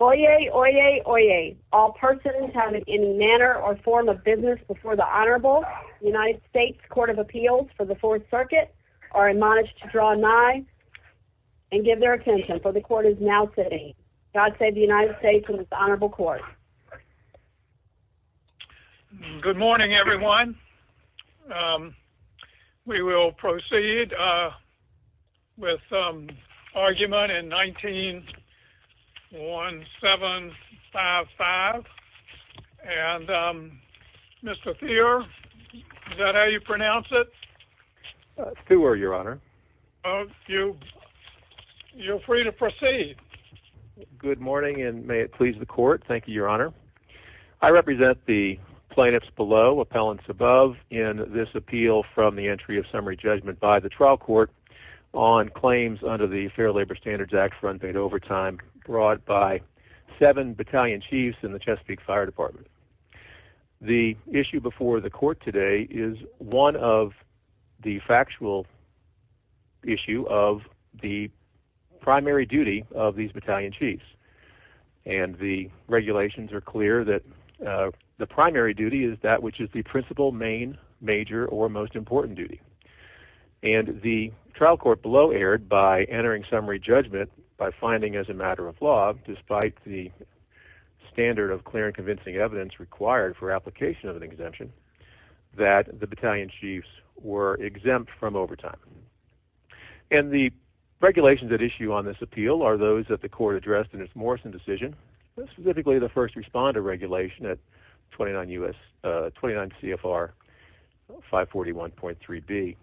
Oyez, oyez, oyez. All persons having any manner or form of business before the Honorable United States Court of Appeals for the Fourth Circuit are admonished to draw nigh and give their attention, for the Court is now sitting. God save the United States and this Honorable Court. Good morning, everyone. We will proceed with argument in 19-1755. And Mr. Thurer, is that how you pronounce it? Thurer, Your Honor. Good morning, and may it please the Court. Thank you, Your Honor. I represent the plaintiffs below, appellants above, in this appeal from the entry of summary judgment by the trial court on claims under the Fair Labor Standards Act for unpaid overtime brought by seven battalion chiefs in the Chesapeake Fire Department. The issue before the Court today is one of the factual issue of the primary duty of these battalion chiefs. And the regulations are clear that the primary duty is that which is the principal, main, major, or most important duty. And the trial court below erred by entering summary judgment by finding as a matter of law, despite the standard of clear and convincing evidence required for application of an exemption, that the battalion chiefs were exempt from overtime. And the regulations at issue on this appeal are those that the Court addressed in its Morrison decision, specifically the first responder regulation at 29 CFR 541.3b.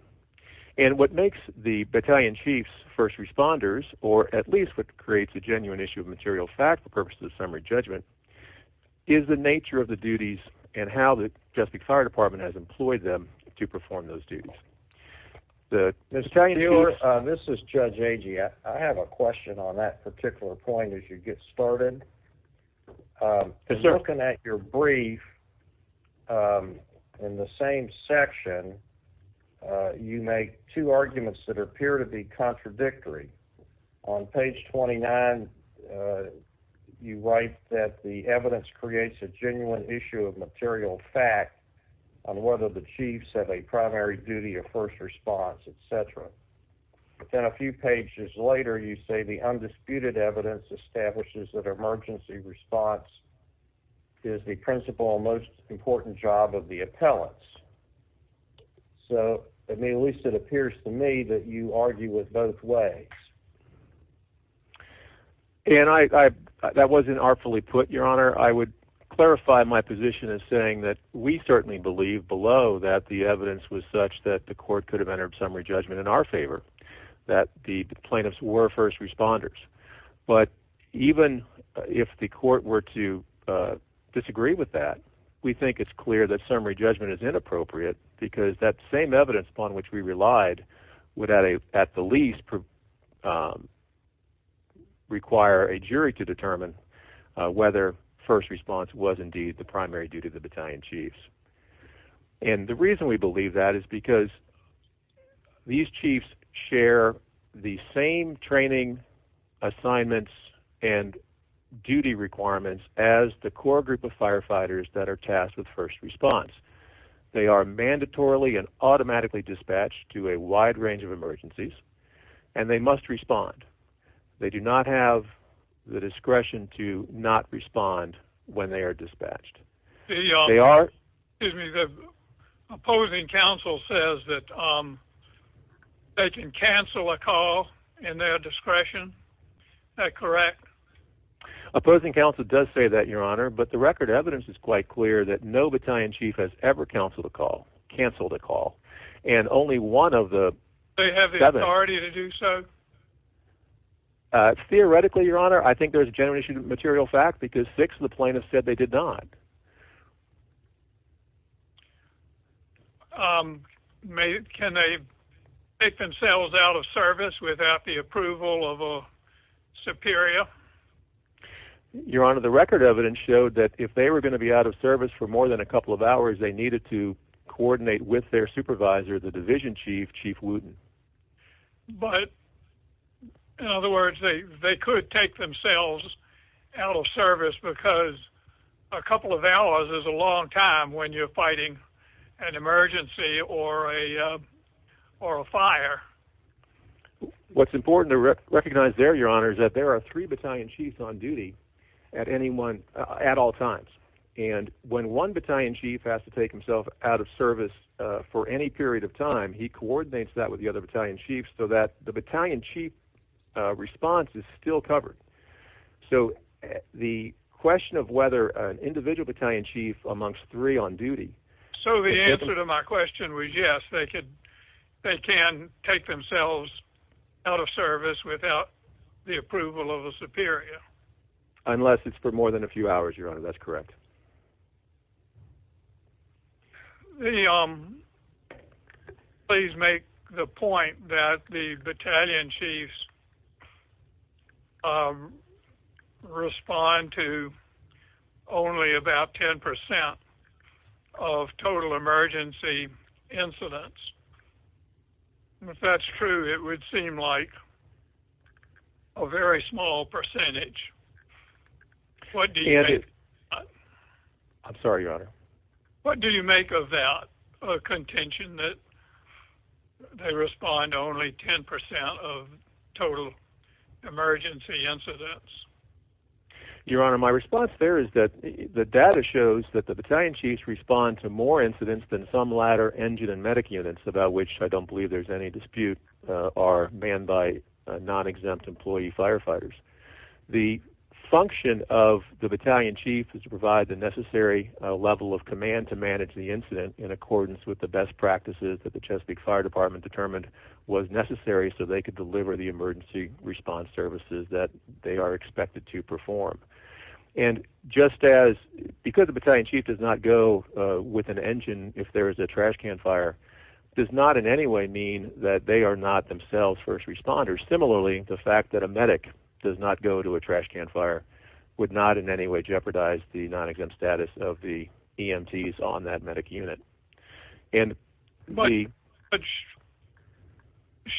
And what makes the battalion chiefs first responders, or at least what creates a genuine issue of material fact for purposes of summary judgment, is the nature of the duties and how the Chesapeake Fire Department has employed them to perform those duties. Mr. Stewart, this is Judge Agee. I have a question on that particular point as you get started. Looking at your brief in the same section, you make two arguments that appear to be contradictory. On page 29, you write that the evidence creates a genuine issue of material fact on whether the chiefs have a primary duty of first response, etc. But then a few pages later, you say the undisputed evidence establishes that emergency response is the principal and most important job of the appellants. So, at least it appears to me that you argue with both ways. That wasn't artfully put, Your Honor. I would clarify my position as saying that we certainly believe below that the evidence was such that the Court could have entered summary judgment in our favor, that the plaintiffs were first responders. But even if the Court were to disagree with that, we think it's clear that summary judgment is inappropriate because that same evidence upon which we relied would at the least require a jury to determine whether first response was indeed the primary duty of the battalion chiefs. And the reason we believe that is because these chiefs share the same training assignments and duty requirements as the core group of firefighters that are tasked with first response. They are mandatorily and automatically dispatched to a wide range of emergencies, and they must respond. They do not have the discretion to not respond when they are dispatched. The opposing counsel says that they can cancel a call in their discretion. Is that correct? Opposing counsel does say that, Your Honor, but the record of evidence is quite clear that no battalion chief has ever canceled a call. Do they have the authority to do so? Theoretically, Your Honor, I think there's a genuine issue of material fact because six of the plaintiffs said they did not. Can they make themselves out of service without the approval of a superior? Your Honor, the record of evidence showed that if they were going to be out of service for more than a couple of hours, they needed to coordinate with their supervisor, the division chief, Chief Wooten. But, in other words, they could take themselves out of service because a couple of hours is a long time when you're fighting an emergency or a fire. What's important to recognize there, Your Honor, is that there are three battalion chiefs on duty at all times. And when one battalion chief has to take himself out of service for any period of time, he coordinates that with the other battalion chiefs so that the battalion chief response is still covered. So the question of whether an individual battalion chief amongst three on duty... So the answer to my question was yes, they can take themselves out of service without the approval of a superior. Unless it's for more than a few hours, Your Honor. That's correct. Please make the point that the battalion chiefs respond to only about 10% of total emergency incidents. If that's true, it would seem like a very small percentage. I'm sorry, Your Honor. What do you make of that contention that they respond to only 10% of total emergency incidents? Your Honor, my response there is that the data shows that the battalion chiefs respond to more incidents than some latter engine and medic units, about which I don't believe there's any dispute, are manned by non-exempt employee firefighters. The function of the battalion chief is to provide the necessary level of command to manage the incident in accordance with the best practices that the Chesapeake Fire Department determined was necessary so they could deliver the emergency response services that they are expected to perform. And just as... because the battalion chief does not go with an engine if there is a trash can fire, does not in any way mean that they are not themselves first responders. Similarly, the fact that a medic does not go to a trash can fire would not in any way jeopardize the non-exempt status of the EMTs on that medic unit. But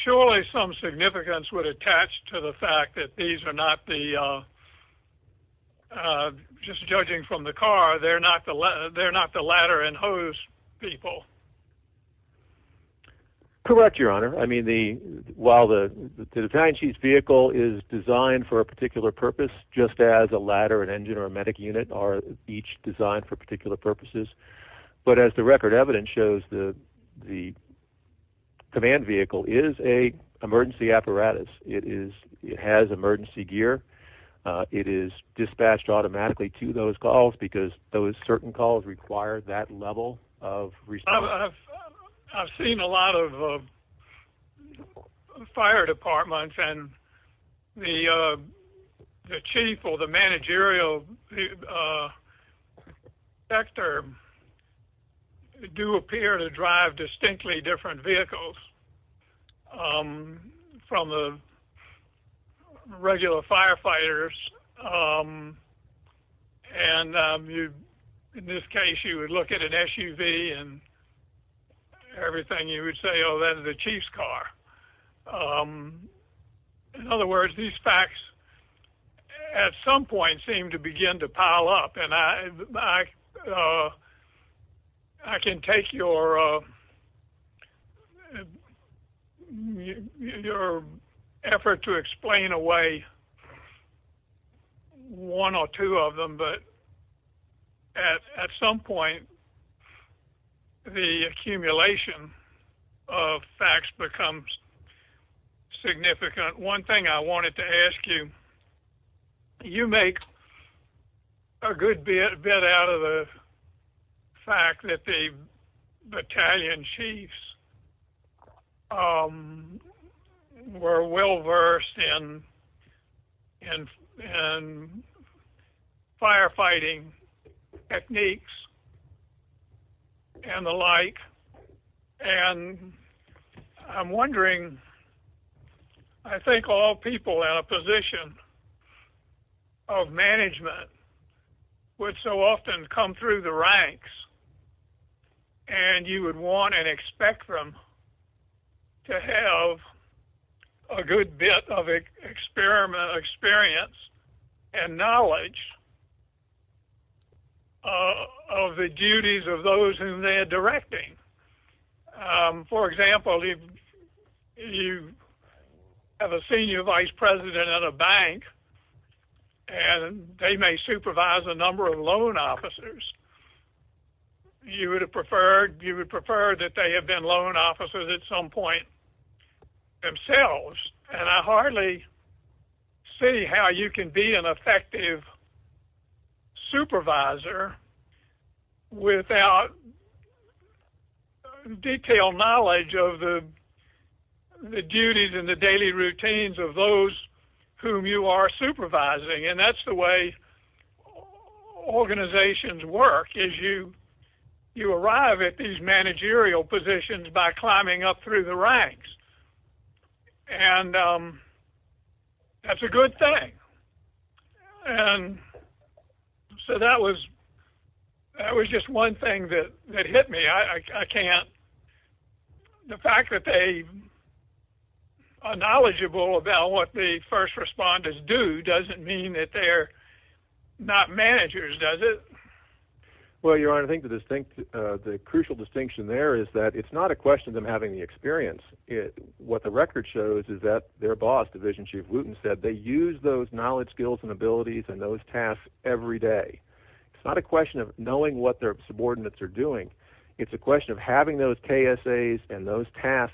surely some significance would attach to the fact that these are not the... just judging from the car, they're not the ladder and hose people. Correct, Your Honor. I mean, while the battalion chief's vehicle is designed for a particular purpose, just as a ladder, an engine, or a medic unit are each designed for particular purposes. But as the record evidence shows, the command vehicle is an emergency apparatus. It has emergency gear. It is dispatched automatically to those calls because those certain calls require that level of response. I've seen a lot of fire departments and the chief or the managerial sector do appear to drive distinctly different vehicles from the regular firefighters. And in this case, you would look at an SUV and everything, you would say, oh, that is the chief's car. In other words, these facts, at some point, seem to begin to pile up. And I can take your effort to explain away one or two of them. But at some point, the accumulation of facts becomes significant. One thing I wanted to ask you, you make a good bit out of the fact that the battalion chiefs were well-versed in firefighting techniques and the like. And I'm wondering, I think all people in a position of management would so often come through the ranks and you would want and expect them to have a good bit of experience and knowledge of the duties of those whom they are directing. For example, if you have a senior vice president at a bank and they may supervise a number of loan officers, you would prefer that they have been loan officers at some point themselves. And I hardly see how you can be an effective supervisor without detailed knowledge of the duties and the daily routines of those whom you are supervising. And that's the way organizations work, is you arrive at these managerial positions by climbing up through the ranks. And that's a good thing. And so that was just one thing that hit me. The fact that they are knowledgeable about what the first responders do doesn't mean that they're not managers, does it? Well, Your Honor, I think the crucial distinction there is that it's not a question of them having the experience. What the record shows is that their boss, Division Chief Wooten, said they use those knowledge, skills, and abilities and those tasks every day. It's not a question of knowing what their subordinates are doing. It's a question of having those KSAs and those task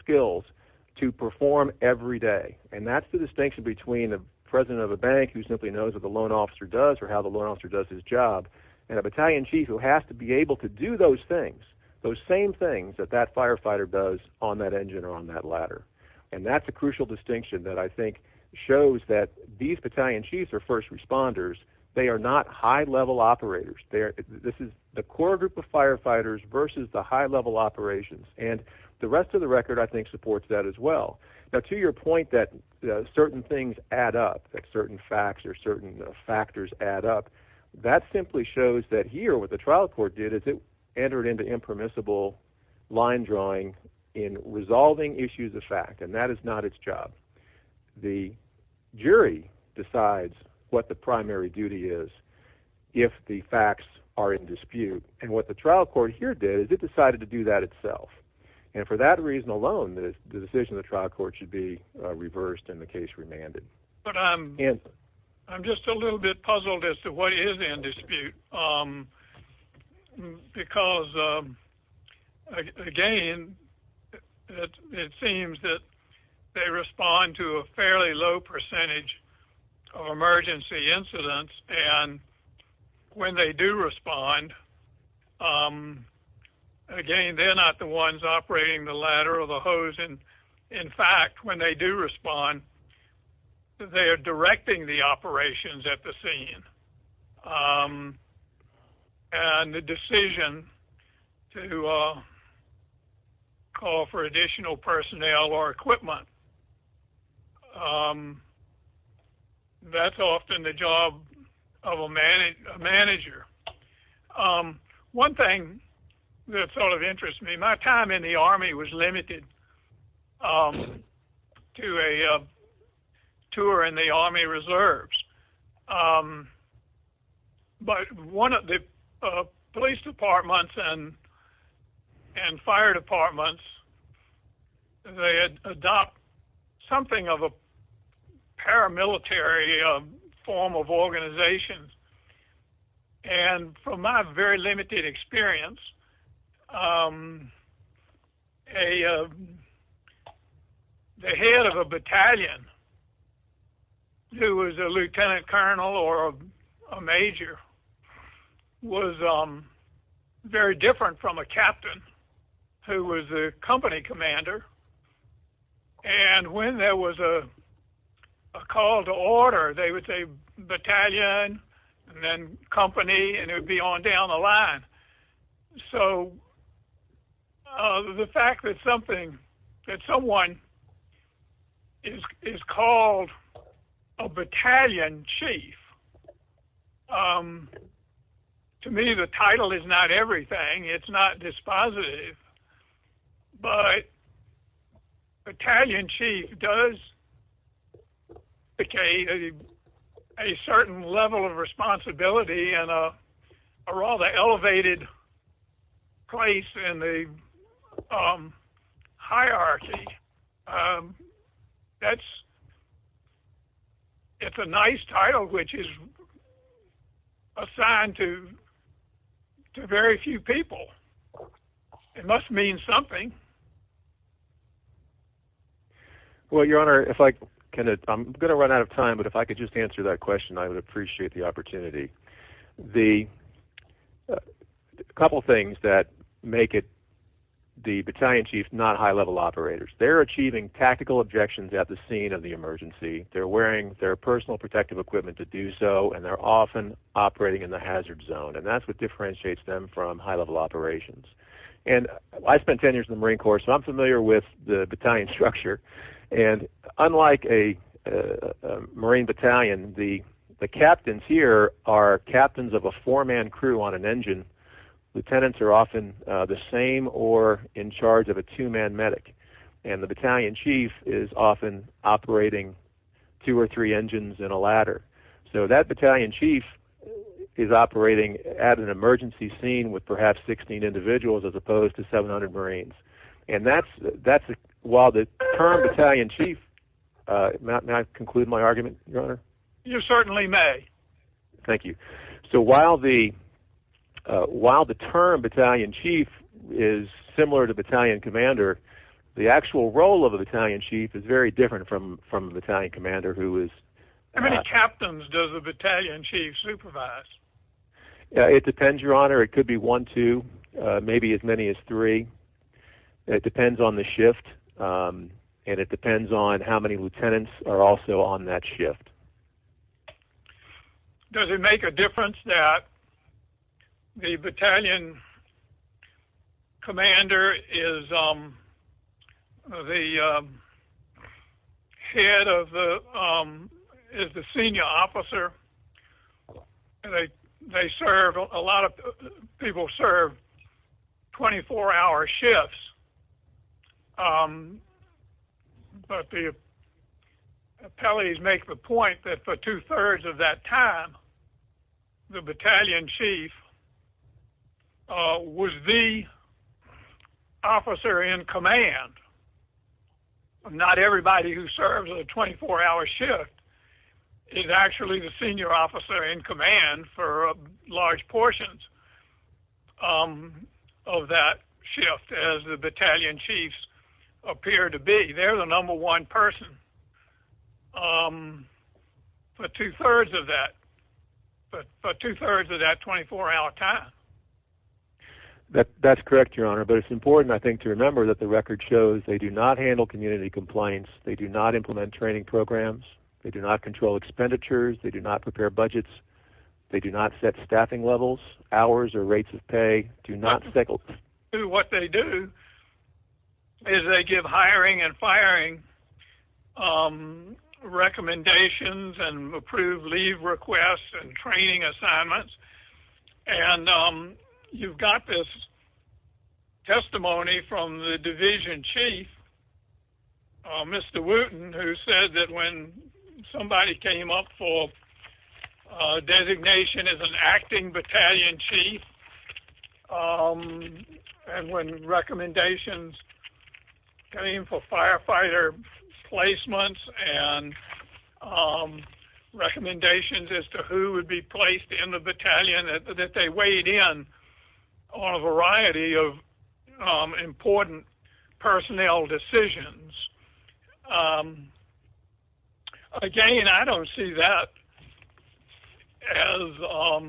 skills to perform every day. And that's the distinction between the president of a bank who simply knows what the loan officer does or how the loan officer does his job, and a battalion chief who has to be able to do those things, those same things that that firefighter does on that engine or on that ladder. And that's a crucial distinction that I think shows that these battalion chiefs are first responders. They are not high-level operators. This is the core group of firefighters versus the high-level operations. And the rest of the record, I think, supports that as well. Now, to your point that certain things add up, that certain facts or certain factors add up, that simply shows that here what the trial court did is it entered into impermissible line drawing in resolving issues of fact, and that is not its job. The jury decides what the primary duty is if the facts are in dispute. And what the trial court here did is it decided to do that itself. And for that reason alone, the decision of the trial court should be reversed and the case remanded. But I'm just a little bit puzzled as to what is in dispute because, again, it seems that they respond to a fairly low percentage of emergency incidents. And when they do respond, again, they're not the ones operating the ladder or the hose. In fact, when they do respond, they are directing the operations at the scene. And the decision to call for additional personnel or equipment, that's often the job of a manager. One thing that sort of interests me, my time in the Army was limited to a tour in the Army reserves. But one of the police departments and fire departments, they had adopted something of a paramilitary form of organization. And from my very limited experience, the head of a battalion who was a lieutenant colonel or a major was very different from a captain who was a company commander. And when there was a call to order, they would say battalion and then company, and it would be on down the line. So the fact that someone is called a battalion chief, to me, the title is not everything. It's not dispositive, but battalion chief does indicate a certain level of responsibility and a rather elevated place in the hierarchy. It's a nice title, which is assigned to very few people. It must mean something. Well, Your Honor, I'm going to run out of time, but if I could just answer that question, I would appreciate the opportunity. A couple things that make it the battalion chief, not high-level operators. They're achieving tactical objections at the scene of the emergency. They're wearing their personal protective equipment to do so, and they're often operating in the hazard zone. And that's what differentiates them from high-level operations. And I spent 10 years in the Marine Corps, so I'm familiar with the battalion structure. And unlike a Marine battalion, the captains here are captains of a four-man crew on an engine. Lieutenants are often the same or in charge of a two-man medic. And the battalion chief is often operating two or three engines in a ladder. So that battalion chief is operating at an emergency scene with perhaps 16 individuals as opposed to 700 Marines. And while the term battalion chief—may I conclude my argument, Your Honor? You certainly may. Thank you. So while the term battalion chief is similar to battalion commander, the actual role of a battalion chief is very different from a battalion commander who is— How many captains does a battalion chief supervise? It depends, Your Honor. It could be one, two, maybe as many as three. It depends on the shift, and it depends on how many lieutenants are also on that shift. Does it make a difference that the battalion commander is the head of the—is the senior officer? They serve—a lot of people serve 24-hour shifts. But the appellees make the point that for two-thirds of that time, the battalion chief was the officer in command. Not everybody who serves a 24-hour shift is actually the senior officer in command for large portions of that shift as the battalion chiefs appear to be. They're the number one person for two-thirds of that 24-hour time. That's correct, Your Honor. But it's important, I think, to remember that the record shows they do not handle community compliance. They do not implement training programs. They do not control expenditures. They do not prepare budgets. They do not set staffing levels, hours, or rates of pay. Do not— What they do is they give hiring and firing recommendations and approve leave requests and training assignments. And you've got this testimony from the division chief, Mr. Wooten, who said that when somebody came up for designation as an acting battalion chief and when recommendations came for firefighter placements and recommendations as to who would be placed in the battalion, that they weighed in on a variety of important personnel decisions. Again, I don't see that as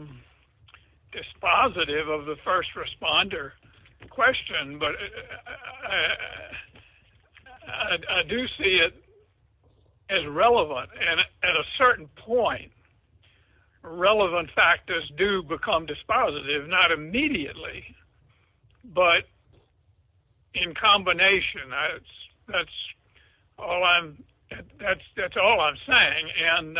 dispositive of the first responder question, but I do see it as relevant. And at a certain point, relevant factors do become dispositive, not immediately, but in combination. That's all I'm saying. And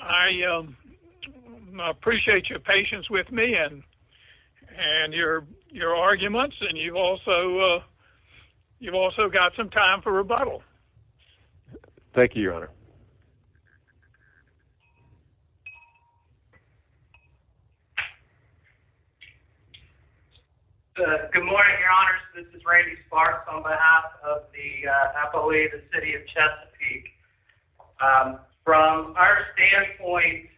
I appreciate your patience with me and your arguments, and you've also got some time for rebuttal. Thank you, Your Honor. Good morning, Your Honors. This is Randy Sparks on behalf of the FOA, the city of Chesapeake. From our standpoint,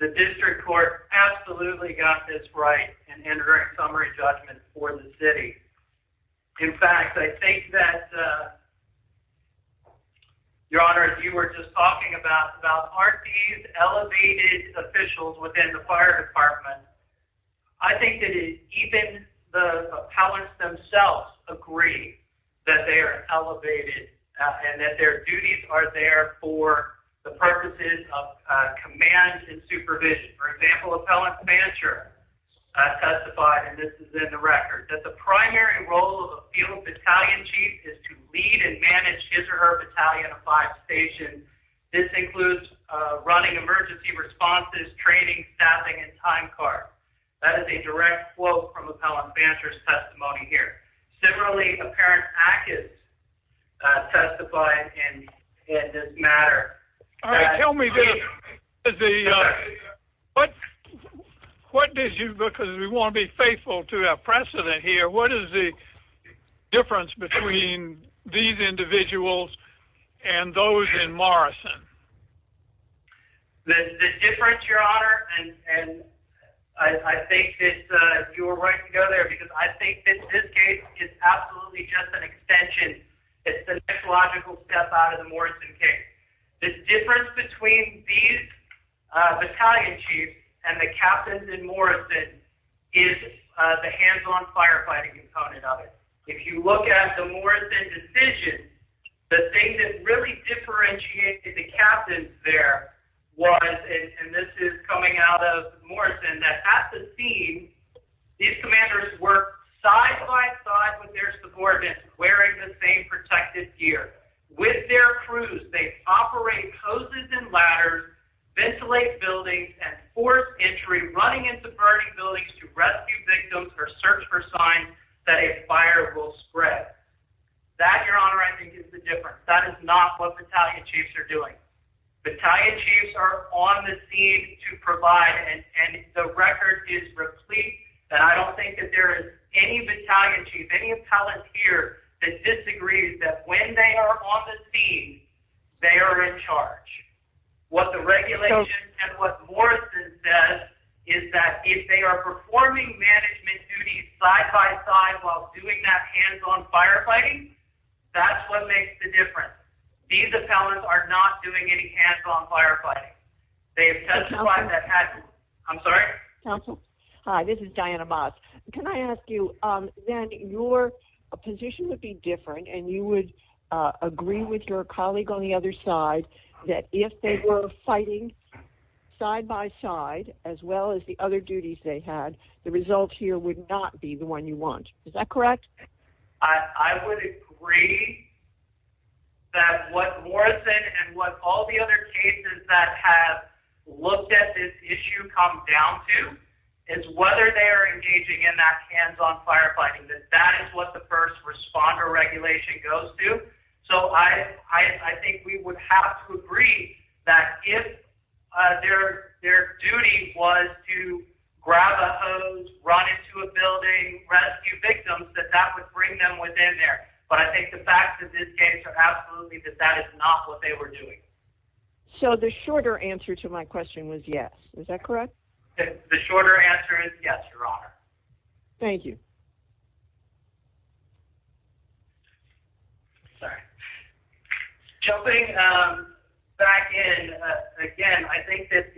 the district court absolutely got this right in entering summary judgments for the city. In fact, I think that, Your Honor, as you were just talking about, aren't these elevated officials within the fire department, I think that even the appellants themselves agree that they are elevated and that their duties are there for the purposes of command and supervision. For example, appellant Fancher testified, and this is in the record, that the primary role of a field battalion chief is to lead and manage his or her battalion of five stations. This includes running emergency responses, training, staffing, and time cards. That is a direct quote from appellant Fancher's testimony here. Similarly, apparent active testified in this matter. All right, tell me, because we want to be faithful to our precedent here, what is the difference between these individuals and those in Morrison? The difference, Your Honor, and I think that you were right to go there because I think that this case is absolutely just an extension. It's the next logical step out of the Morrison case. The difference between these battalion chiefs and the captains in Morrison is the hands-on firefighting component of it. If you look at the Morrison decision, the thing that really differentiated the captains there was, and this is coming out of Morrison, that at the scene, these commanders worked side-by-side with their subordinates, wearing the same protected gear. With their crews, they operate hoses and ladders, ventilate buildings, and force entry, running into burning buildings to rescue victims or search for signs that a fire will spread. That, Your Honor, I think is the difference. That is not what battalion chiefs are doing. Battalion chiefs are on the scene to provide, and the record is replete that I don't think that there is any battalion chief, any appellant here that disagrees that when they are on the scene, they are in charge. What the regulation and what Morrison says is that if they are performing management duties side-by-side while doing that hands-on firefighting, that's what makes the difference. These appellants are not doing any hands-on firefighting. They have testified that hadn't. I'm sorry? Counsel? Hi, this is Diana Moss. Can I ask you, then, your position would be different, and you would agree with your colleague on the other side that if they were fighting side-by-side, as well as the other duties they had, the result here would not be the one you want. Is that correct? I would agree that what Morrison and what all the other cases that have looked at this issue come down to is whether they are engaging in that hands-on firefighting, that that is what the first responder regulation goes to. So I think we would have to agree that if their duty was to grab a hose, run into a building, rescue victims, that that would bring them within there. But I think the facts of this case are absolutely that that is not what they were doing. So the shorter answer to my question was yes. Is that correct? The shorter answer is yes, Your Honor. Thank you. Jumping back in, again, I think that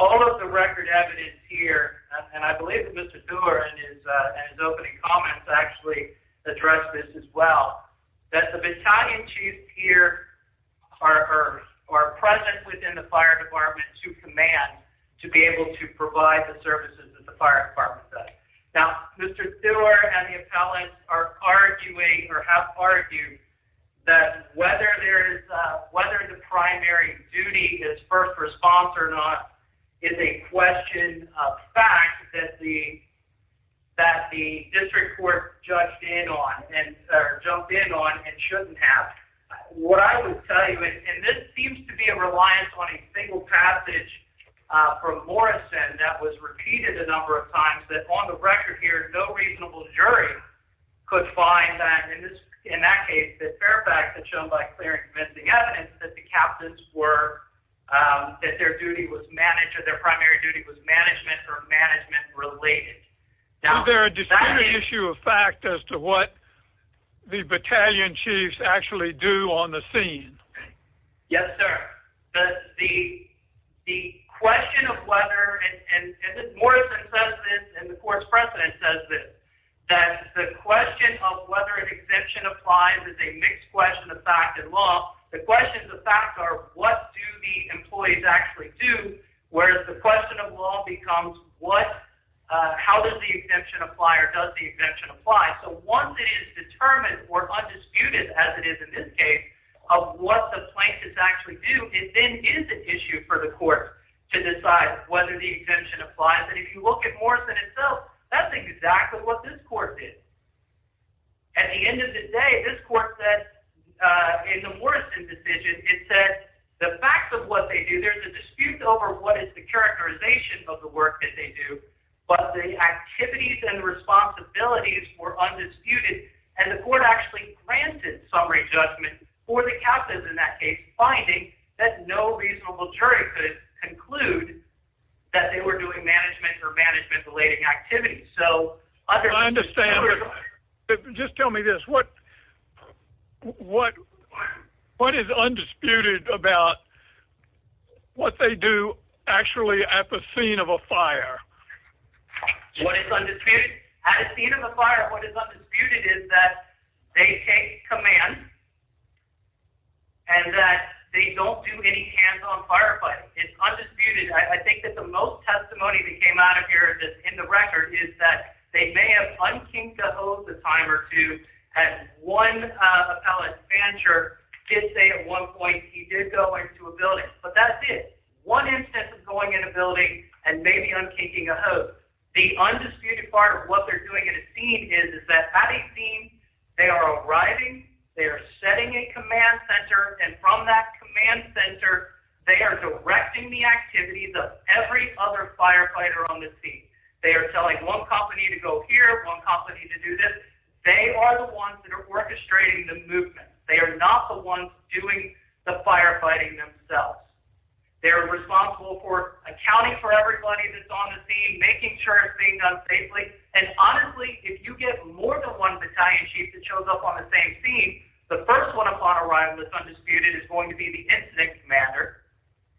all of the record evidence here, and I believe that Mr. Doerr in his opening comments actually addressed this as well, that the battalion chiefs here are present within the fire department to be able to provide the services of the fire department. Now, Mr. Doerr and the appellants are arguing or have argued that whether the primary duty is first response or not is a question of fact that the district court jumped in on and shouldn't have. What I would tell you, and this seems to be a reliance on a single passage from Morrison that was repeated a number of times, that on the record here, no reasonable jury could find that, in that case, that Fairfax had shown by clear and convincing evidence that the captains were, that their duty was managed, or their primary duty was management or management related. Is there a disputed issue of fact as to what the battalion chiefs actually do on the scene? Yes, sir. The question of whether, and Morrison says this and the court's president says this, that the question of whether an exemption applies is a mixed question of fact and law. The questions of fact are what do the employees actually do, whereas the question of law becomes what, how does the exemption apply or does the exemption apply? So once it is determined or undisputed, as it is in this case, of what the plaintiffs actually do, it then is an issue for the court to decide whether the exemption applies. And if you look at Morrison itself, that's exactly what this court did. At the end of the day, this court said in the Morrison decision, it said the facts of what they do, there's a dispute over what is the characterization of the work that they do, but the activities and responsibilities were undisputed. And the court actually granted summary judgment for the captives in that case, finding that no reasonable jury could conclude that they were doing management or management related activities. So. I understand. Just tell me this. What, what, what is undisputed about. What they do actually at the scene of a fire. What is undisputed at a scene of a fire? What is undisputed is that they take command. And that they don't do any hands-on firefighting. It's undisputed. I think that the most testimony that came out of here in the record is that they may have unkinked a hose a time or two. And one appellate manager did say at one point, he did go into a building, but that's it. One instance of going in a building and maybe unkinking a hose. The undisputed part of what they're doing at a scene is, is that having seen they are arriving, they are setting a command center. And from that command center, they are directing the activities of every other firefighter on the scene. They are telling one company to go here, one company to do this. They are the ones that are orchestrating the movement. They are not the ones doing the firefighting themselves. They're responsible for accounting for everybody that's on the scene, making sure it's being done safely. And honestly, if you get more than one battalion chief that shows up on the same scene, the first one upon arrival is undisputed is going to be the incident commander.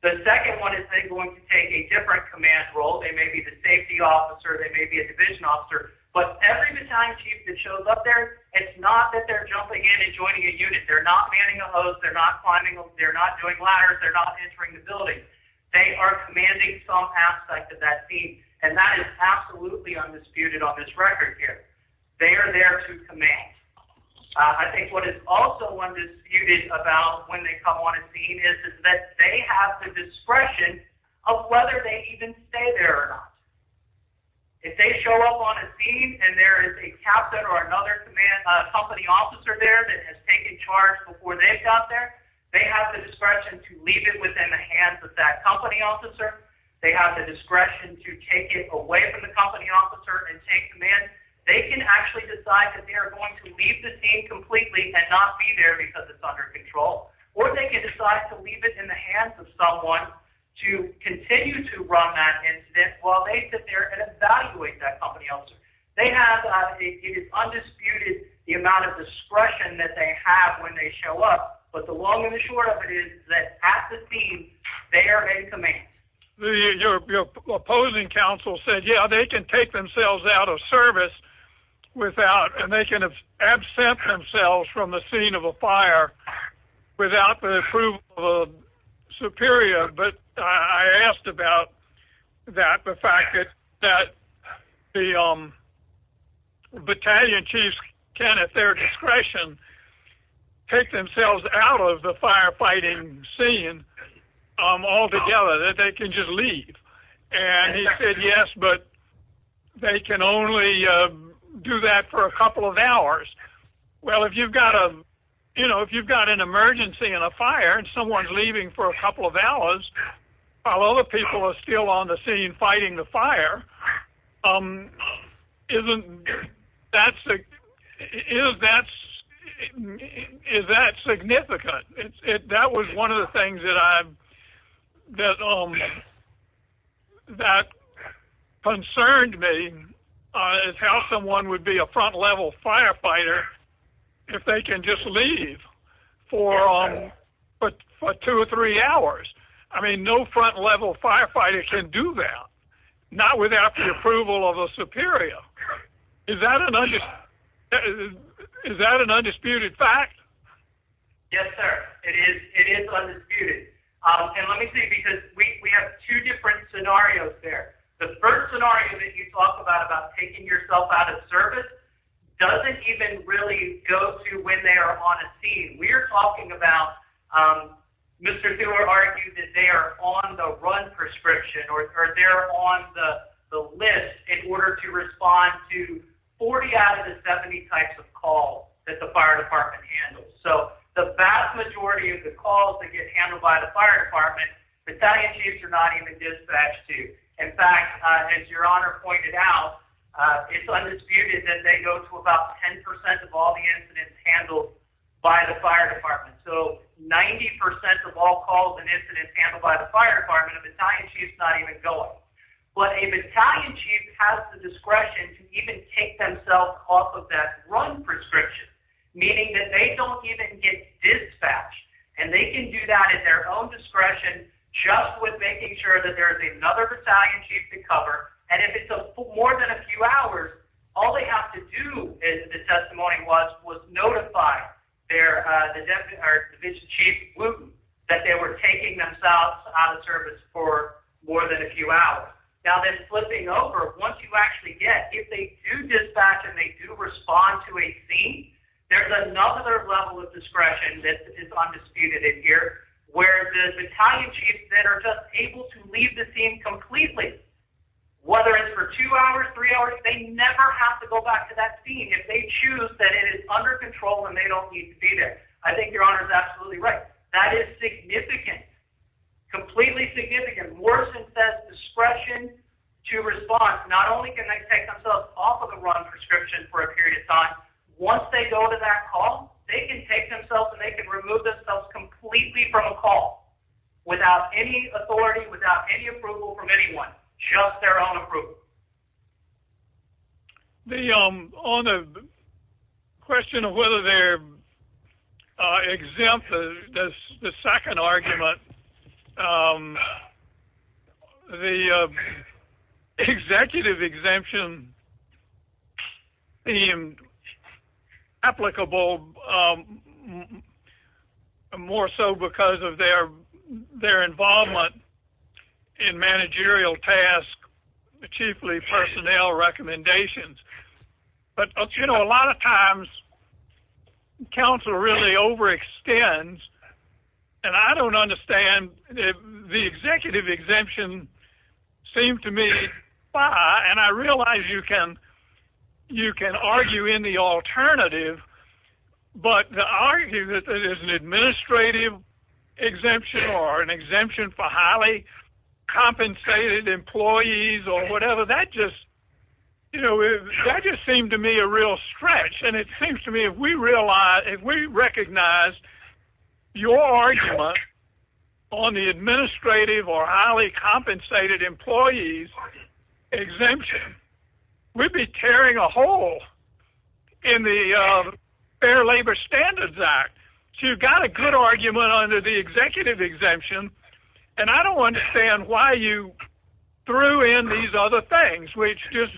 The second one is they going to take a different command role. They may be the safety officer. They may be a division officer, but every battalion chief that shows up there, it's not that they're jumping in and joining a unit. They're not manning a hose. They're not climbing. They're not doing ladders. They're not entering the building. They are commanding some aspect of that scene. And that is absolutely undisputed on this record here. They are there to command. I think what is also undisputed about when they come on a scene is, is that they have the discretion of whether they even stay there or not. If they show up on a scene and there is a captain or another command, a company officer there that has taken charge before they've got there, they have the discretion to leave it within the hands of that company officer. They have the discretion to take it away from the company officer and take command. They can actually decide that they are going to leave the scene completely and not be there because it's under control. Or they can decide to leave it in the hands of someone to continue to run that incident while they sit there and evaluate that company officer. They have, it is undisputed, the amount of discretion that they have when they show up. But the long and the short of it is that at the scene, they are in command. Your opposing counsel said, yeah, they can take themselves out of service without, and they can absent themselves from the scene of a fire without the approval of a superior. But I asked about that, the fact that the battalion chiefs can, at their discretion, take themselves out of the firefighting scene altogether. They can just leave. And he said, yes, but they can only do that for a couple of hours. Well, if you've got a, you know, if you've got an emergency and a fire and someone's leaving for a couple of hours, while other people are still on the scene fighting the fire, isn't that, is that significant? That was one of the things that I've, that concerned me is how someone would be a front level firefighter. If they can just leave for two or three hours. I mean, no front level firefighter can do that. Not without the approval of a superior. Is that an undisputed fact? Yes, sir. It is. It is undisputed. And let me say, because we have two different scenarios there. The first scenario that you talk about, about taking yourself out of service. Doesn't even really go to when they are on a scene we're talking about. Mr. They will argue that they are on the run prescription or they're on the list in order to respond to 40 out of the 70 types of calls that the fire department handles. So the vast majority of the calls that get handled by the fire department, battalion chiefs are not even dispatched to. In fact, as your honor pointed out, it's undisputed that they go to about 10% of all the incidents handled by the fire department. So 90% of all calls and incidents handled by the fire department of Italian chiefs, not even going, but a battalion chief has the discretion to even take themselves off of that run prescription, meaning that they don't even get dispatched and they can do that at their own discretion, just with making sure that there's another battalion chief to cover. And if it's a more than a few hours, all they have to do is the testimony was, was notify their, the deputy or division chief that they were taking themselves out of service for more than a few hours. Now they're flipping over. Once you actually get, if they do dispatch and they do respond to a scene, there's another level of discretion that is undisputed in here where the battalion chiefs that are just able to leave the scene completely, whether it's for two hours, three hours, they never have to go back to that scene. If they choose that it is under control and they don't need to be there. I think your honor is absolutely right. That is significant, completely significant. Discretion to respond. Not only can they take themselves off of the run prescription for a period of time. Once they go to that call, they can take themselves and they can remove themselves completely from a call without any authority, without any approval from anyone, just their own approval. The question of whether they're exempt. The second argument, the executive exemption applicable more so because of their involvement in managerial tasks, chiefly personnel recommendations. But you know, a lot of times council really overextends. And I don't understand the executive exemption seemed to me, and I realize you can, you can argue in the alternative, but the argument that there is an administrative exemption or an exemption for highly compensated employees or whatever that just, you know, that just seemed to me a real stretch. And it seems to me if we realize, if we recognize your argument on the administrative or highly compensated employees exemption, we'd be tearing a hole in the fair labor standards act. So you've got a good argument under the executive exemption. And I don't understand why you threw in these other things, which just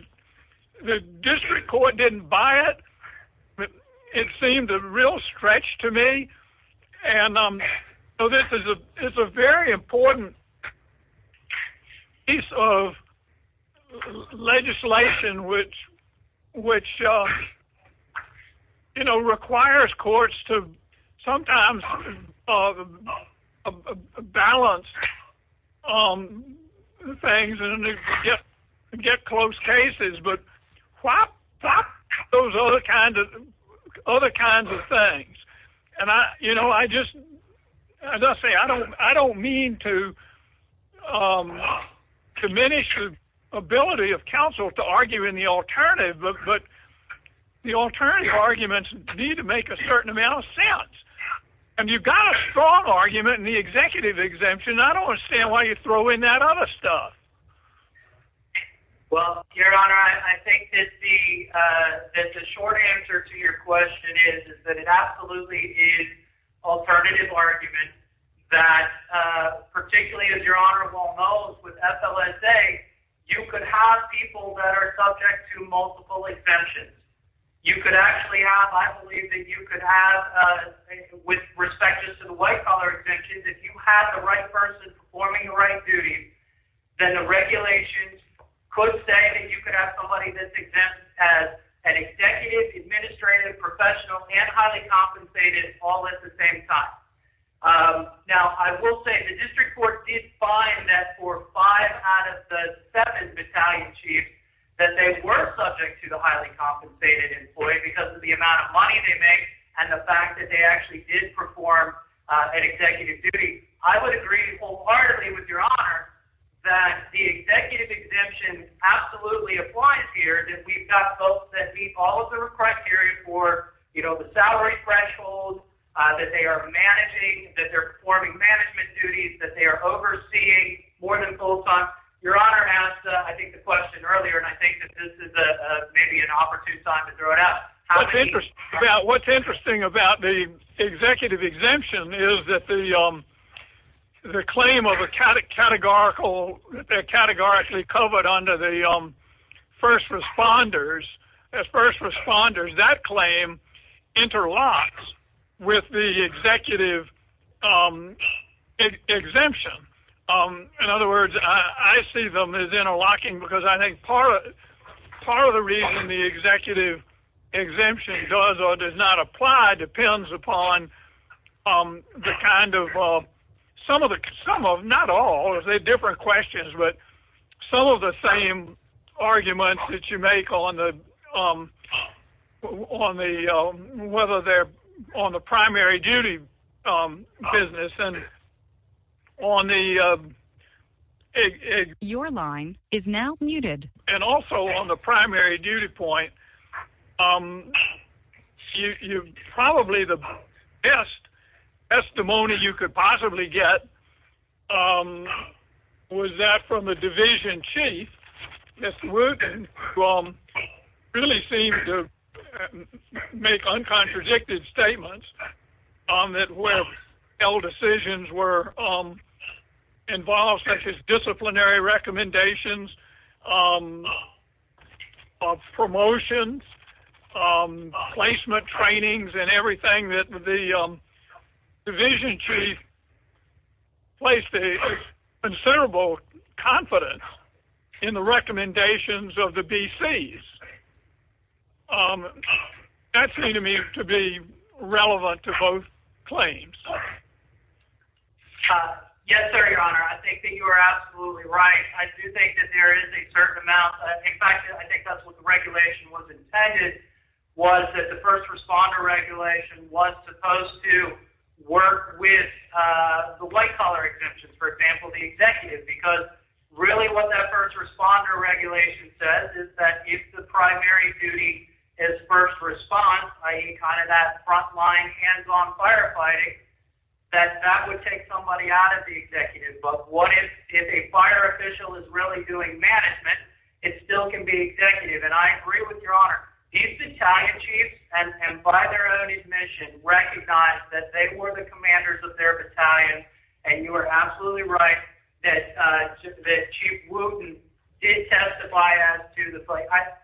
the district court didn't buy it. But it seemed a real stretch to me. And, um, so this is a, it's a very important piece of legislation, which, which, um, you know, requires courts to sometimes, uh, a balanced, um, things and get close cases, but those other kinds of, other kinds of things. And I, you know, I just, as I say, I don't, I don't mean to, um, diminish the ability of council to argue in the alternative, but the alternative arguments need to make a certain amount of sense. And you've got a strong argument in the executive exemption. I don't understand why you throw in that other stuff. Well, your honor, I think it's the, uh, that the short answer to your question is that it absolutely is alternative argument that, uh, particularly as your honorable knows with FLSA, you could have people that are subject to multiple exemptions. You could actually have, I believe that you could have, uh, with respect to the white collar exemptions, if you have the right person performing the right duties, then the regulations could say that you could have somebody that's exempt as an executive administrative professional and highly compensated all at the same time. Um, now I will say the district court did find that for five out of the seven battalion chiefs, that they were subject to the highly compensated employee because of the fact that they did perform an executive duty. I would agree wholeheartedly with your honor that the executive exemption absolutely applies here that we've got folks that meet all of the criteria for, you know, the salary threshold, uh, that they are managing, that they're performing management duties, that they are overseeing more than full time. Your honor asked, I think the question earlier, and I think that this is a maybe an opportune time to throw it out. What's interesting about the executive exemption is that the, um, the claim of a categorical categorically covered under the, um, first responders as first responders, that claim interlocks with the executive, um, exemption. Um, in other words, I see them as interlocking because I think part of, part of the reason the executive exemption does or does not apply depends upon, um, the kind of, uh, some of the, some of, not all, they're different questions, but some of the same arguments that you make on the, um, on the, um, whether they're on the primary duty, um, business and on the, uh, your line is now muted. And also on the primary duty point, um, you, you probably the best, that's the money you could possibly get. Um, was that from a division chief? Yes. Really seem to make uncontradicted statements on that. Decisions were, um, involved such as disciplinary recommendations, um, uh, promotions, um, placement trainings and everything that the, um, the vision tree placed a considerable confidence in the recommendations of the BCs. Um, that seemed to me to be relevant to both claims. Uh, yes, sir. Your honor. I think that you are absolutely right. I do think that there is a certain amount. In fact, I think that's what the regulation was intended was that the first responder regulation was supposed to work with, uh, the white collar exemptions, for example, the executive because really what that first responder regulation says is that if the primary duty is first response, I eat kind of that frontline hands-on firefighting that that would take somebody out of the executive. But what if, if a fire official is really doing management, it still can be executive. And I agree with your honor, he's the Italian chief and by their own admission, recognize that they were the commanders of their battalion. And you are absolutely right that, uh,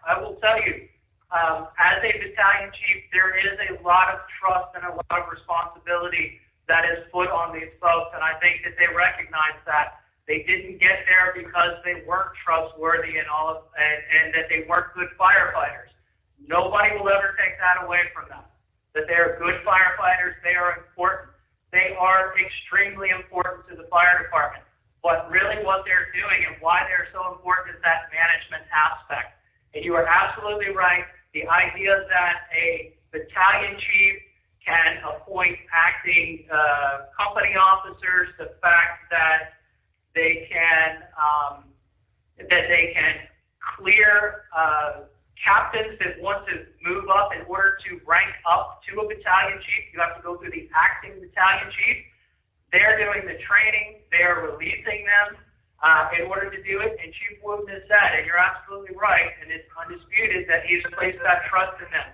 I will tell you, um, as a battalion chief, there is a lot of trust and a lot of responsibility that is put on these folks. And I think that they recognize that they didn't get there because they weren't trustworthy and all, and that they weren't good firefighters. Nobody will ever take that away from them, that they're good firefighters. They are important. They are extremely important to the fire department, but really what they're doing and why they're so important is that management aspect. And you are absolutely right. The idea that a battalion chief can appoint acting, uh, company officers, the fact that they can, um, that they can clear, uh, captains that want to move up in order to rank up to a battalion chief, you have to go through the acting battalion chief. They're doing the training, they're releasing them in order to do it. And you're absolutely right. And it's undisputed that he's placed that trust in them.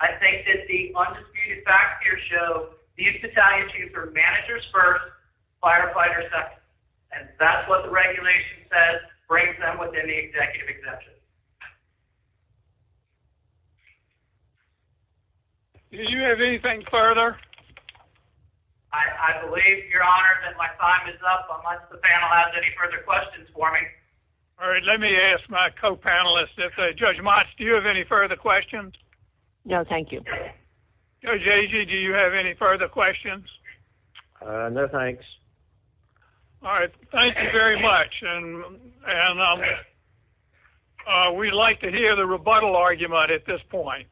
I think that the undisputed fact here show these battalion chiefs are managers first, firefighters second. And that's what the regulation says brings them within the executive exemption. Did you have anything further? I believe your honor that my time is up. Unless the panel has any further questions for me. All right. Let me ask my co-panelists. If I judge much, do you have any further questions? No, thank you. Do you have any further questions? No, thanks. All right. Thank you very much. And, and, um, uh, we'd like to hear the rebuttal argument at this point.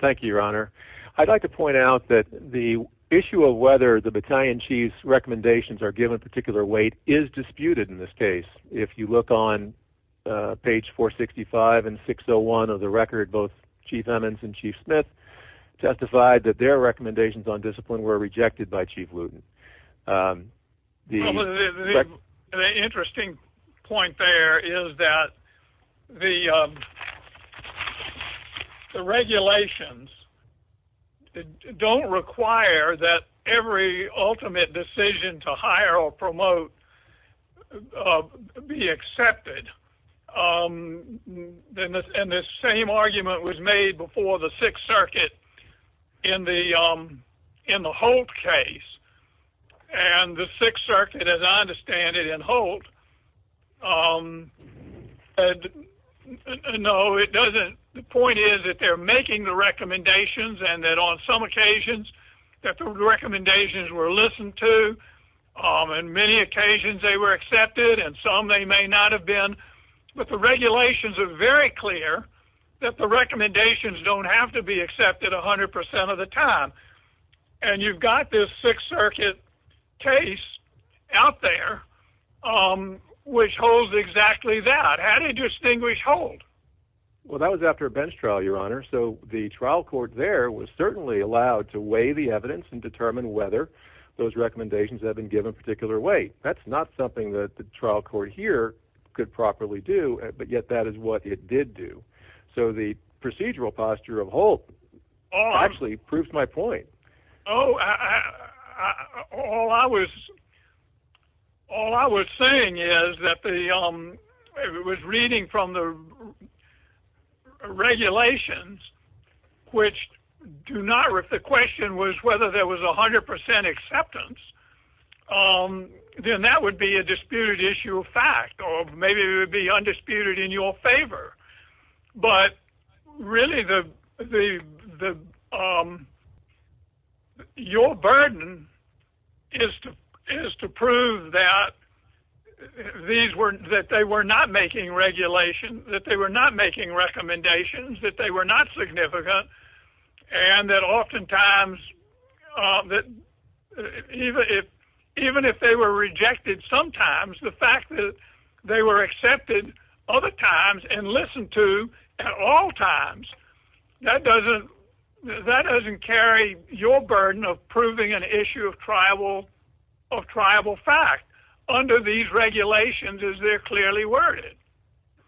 Thank you, your honor. I'd like to point out that the issue of whether the battalion chiefs recommendations are given particular weight is disputed in this case. If you look on page four 65 and six Oh one of the record, both chief Emmons and chief Smith testified that their recommendations on discipline were rejected by chief Luton. The interesting point there is that the, um, the regulations don't require that every ultimate decision to hire or promote, uh, be accepted. Um, then the same argument was made before the sixth circuit in the, um, in the whole case. And the sixth circuit, as I understand it and hold, um, no, it doesn't. The point is that they're making the recommendations and that on some recommendations were listened to. Um, and many occasions they were accepted and some they may not have been, but the regulations are very clear that the recommendations don't have to be accepted a hundred percent of the time. And you've got this sixth circuit case out there, um, which holds exactly that had a distinguished hold. Well, that was after a bench trial, your honor. So the trial court there was certainly allowed to weigh the evidence and determine whether those recommendations have been given particular way. That's not something that the trial court here could properly do, but yet that is what it did do. So the procedural posture of hold actually proves my point. Oh, I, all I was, all I was saying is that the, um, it was reading from the regulations, which do not rip. The question was whether there was a hundred percent acceptance. Um, then that would be a disputed issue of fact, or maybe it would be undisputed in your favor. But really the, the, the, um, your burden is to, is to prove that these were that they were not making regulation, that they were not making recommendations, that they were not significant and that oftentimes, uh, that even if, even if they were rejected, sometimes the fact that they were accepted other times and listened to at all times, that doesn't, that doesn't carry your burden of proving an issue of tribal or tribal fact under these regulations is they're clearly worded.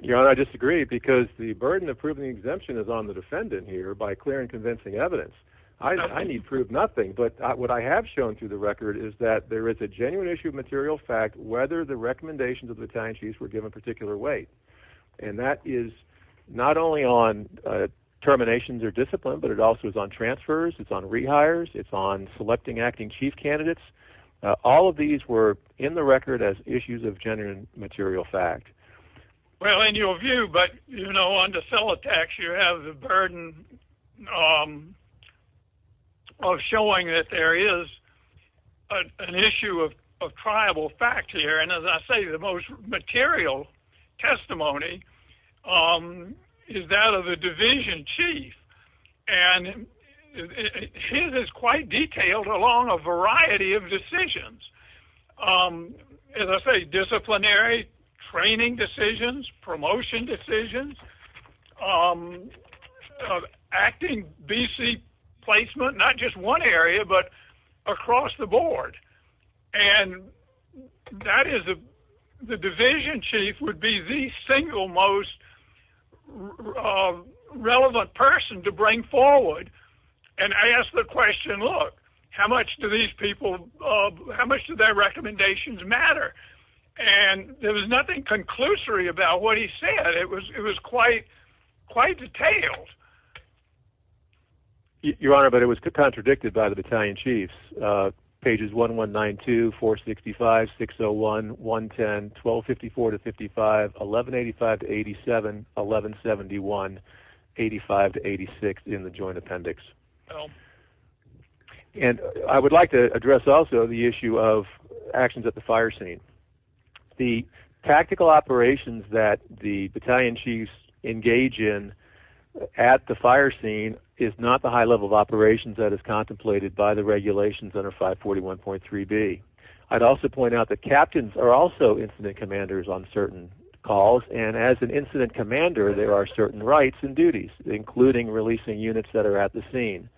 Your honor, I disagree because the burden of proving the exemption is on the defendant here by clear and convincing evidence. I, I need prove nothing, but what I have shown through the record is that there is a genuine issue of material fact, whether the recommendations of the Italian chiefs were given particular weight. And that is not only on, uh, terminations or discipline, but it also is on transfers. It's on rehires. It's on selecting acting chief candidates. All of these were in the record as issues of genuine material fact. Well, in your view, but you know, on the cell attacks, you have the burden of showing that there is an issue of, of tribal fact here. And as I say, the most material testimony is that of the division chief and his is quite detailed along a variety of decisions. Um, let's say disciplinary training decisions, promotion decisions, um, uh, acting BC placement, not just one area, but across the board and that is the division chief would be the single most relevant person to bring forward. And I asked the question, look, how much do these people, uh, how much do their recommendations matter? And there was nothing conclusory about what he said. It was, it was quite quite detailed. Your honor, but it was contradicted by the battalion chiefs, uh, pages one, one nine, two, four 65, six Oh one, one 10, 1254 to 55, 1185 to 87, 1171, 85 to 86 in the joint appendix. And I would like to address also the issue of actions at the fire scene. The tactical operations that the battalion chiefs engage in at the fire scene is not the high level of operations that is contemplated by the regulations under five 41.3 B. I'd also point out that captains are also incident commanders on certain calls. And as an incident commander, there are certain rights and duties, including releasing units that are at the scene.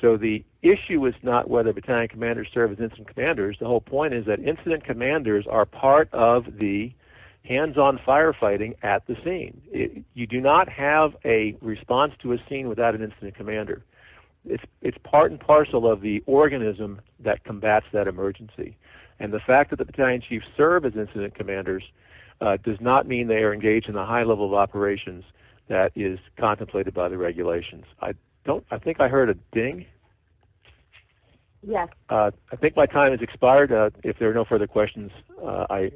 So the issue is not whether battalion commanders serve as instant commanders. The whole point is that incident commanders are part of the hands-on firefighting at the scene. You do not have a response to a scene without an incident commander. It's, it's part and parcel of the organism that combats that emergency. And the fact that the battalion chiefs serve as incident commanders, uh, does not mean they are engaged in a high level of operations that is contemplated by the regulations. I don't, I think I heard a ding. Yeah. Uh, I think my time is expired. Uh, if there are no further questions, uh, I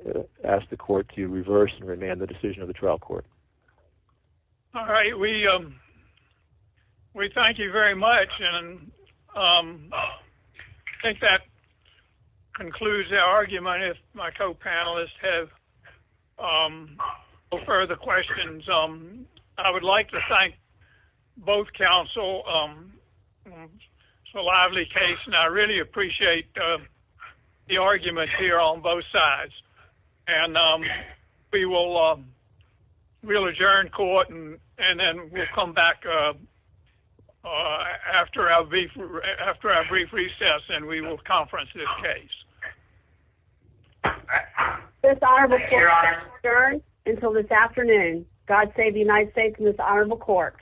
asked the court to reverse and remand the decision of the trial court. All right. We, um, we thank you very much. And, um, I think that concludes our argument. If my co-panelists have, um, or further questions, um, I would like to thank both counsel. Um, it's a lively case and I really appreciate, uh, the argument here on both sides. And, um, we will, um, we'll adjourn court and, and then we'll come back, uh, uh, after our brief, after our brief recess and we will conference this case. All right. This honorable court adjourns until this afternoon. God save the United States and this honorable court.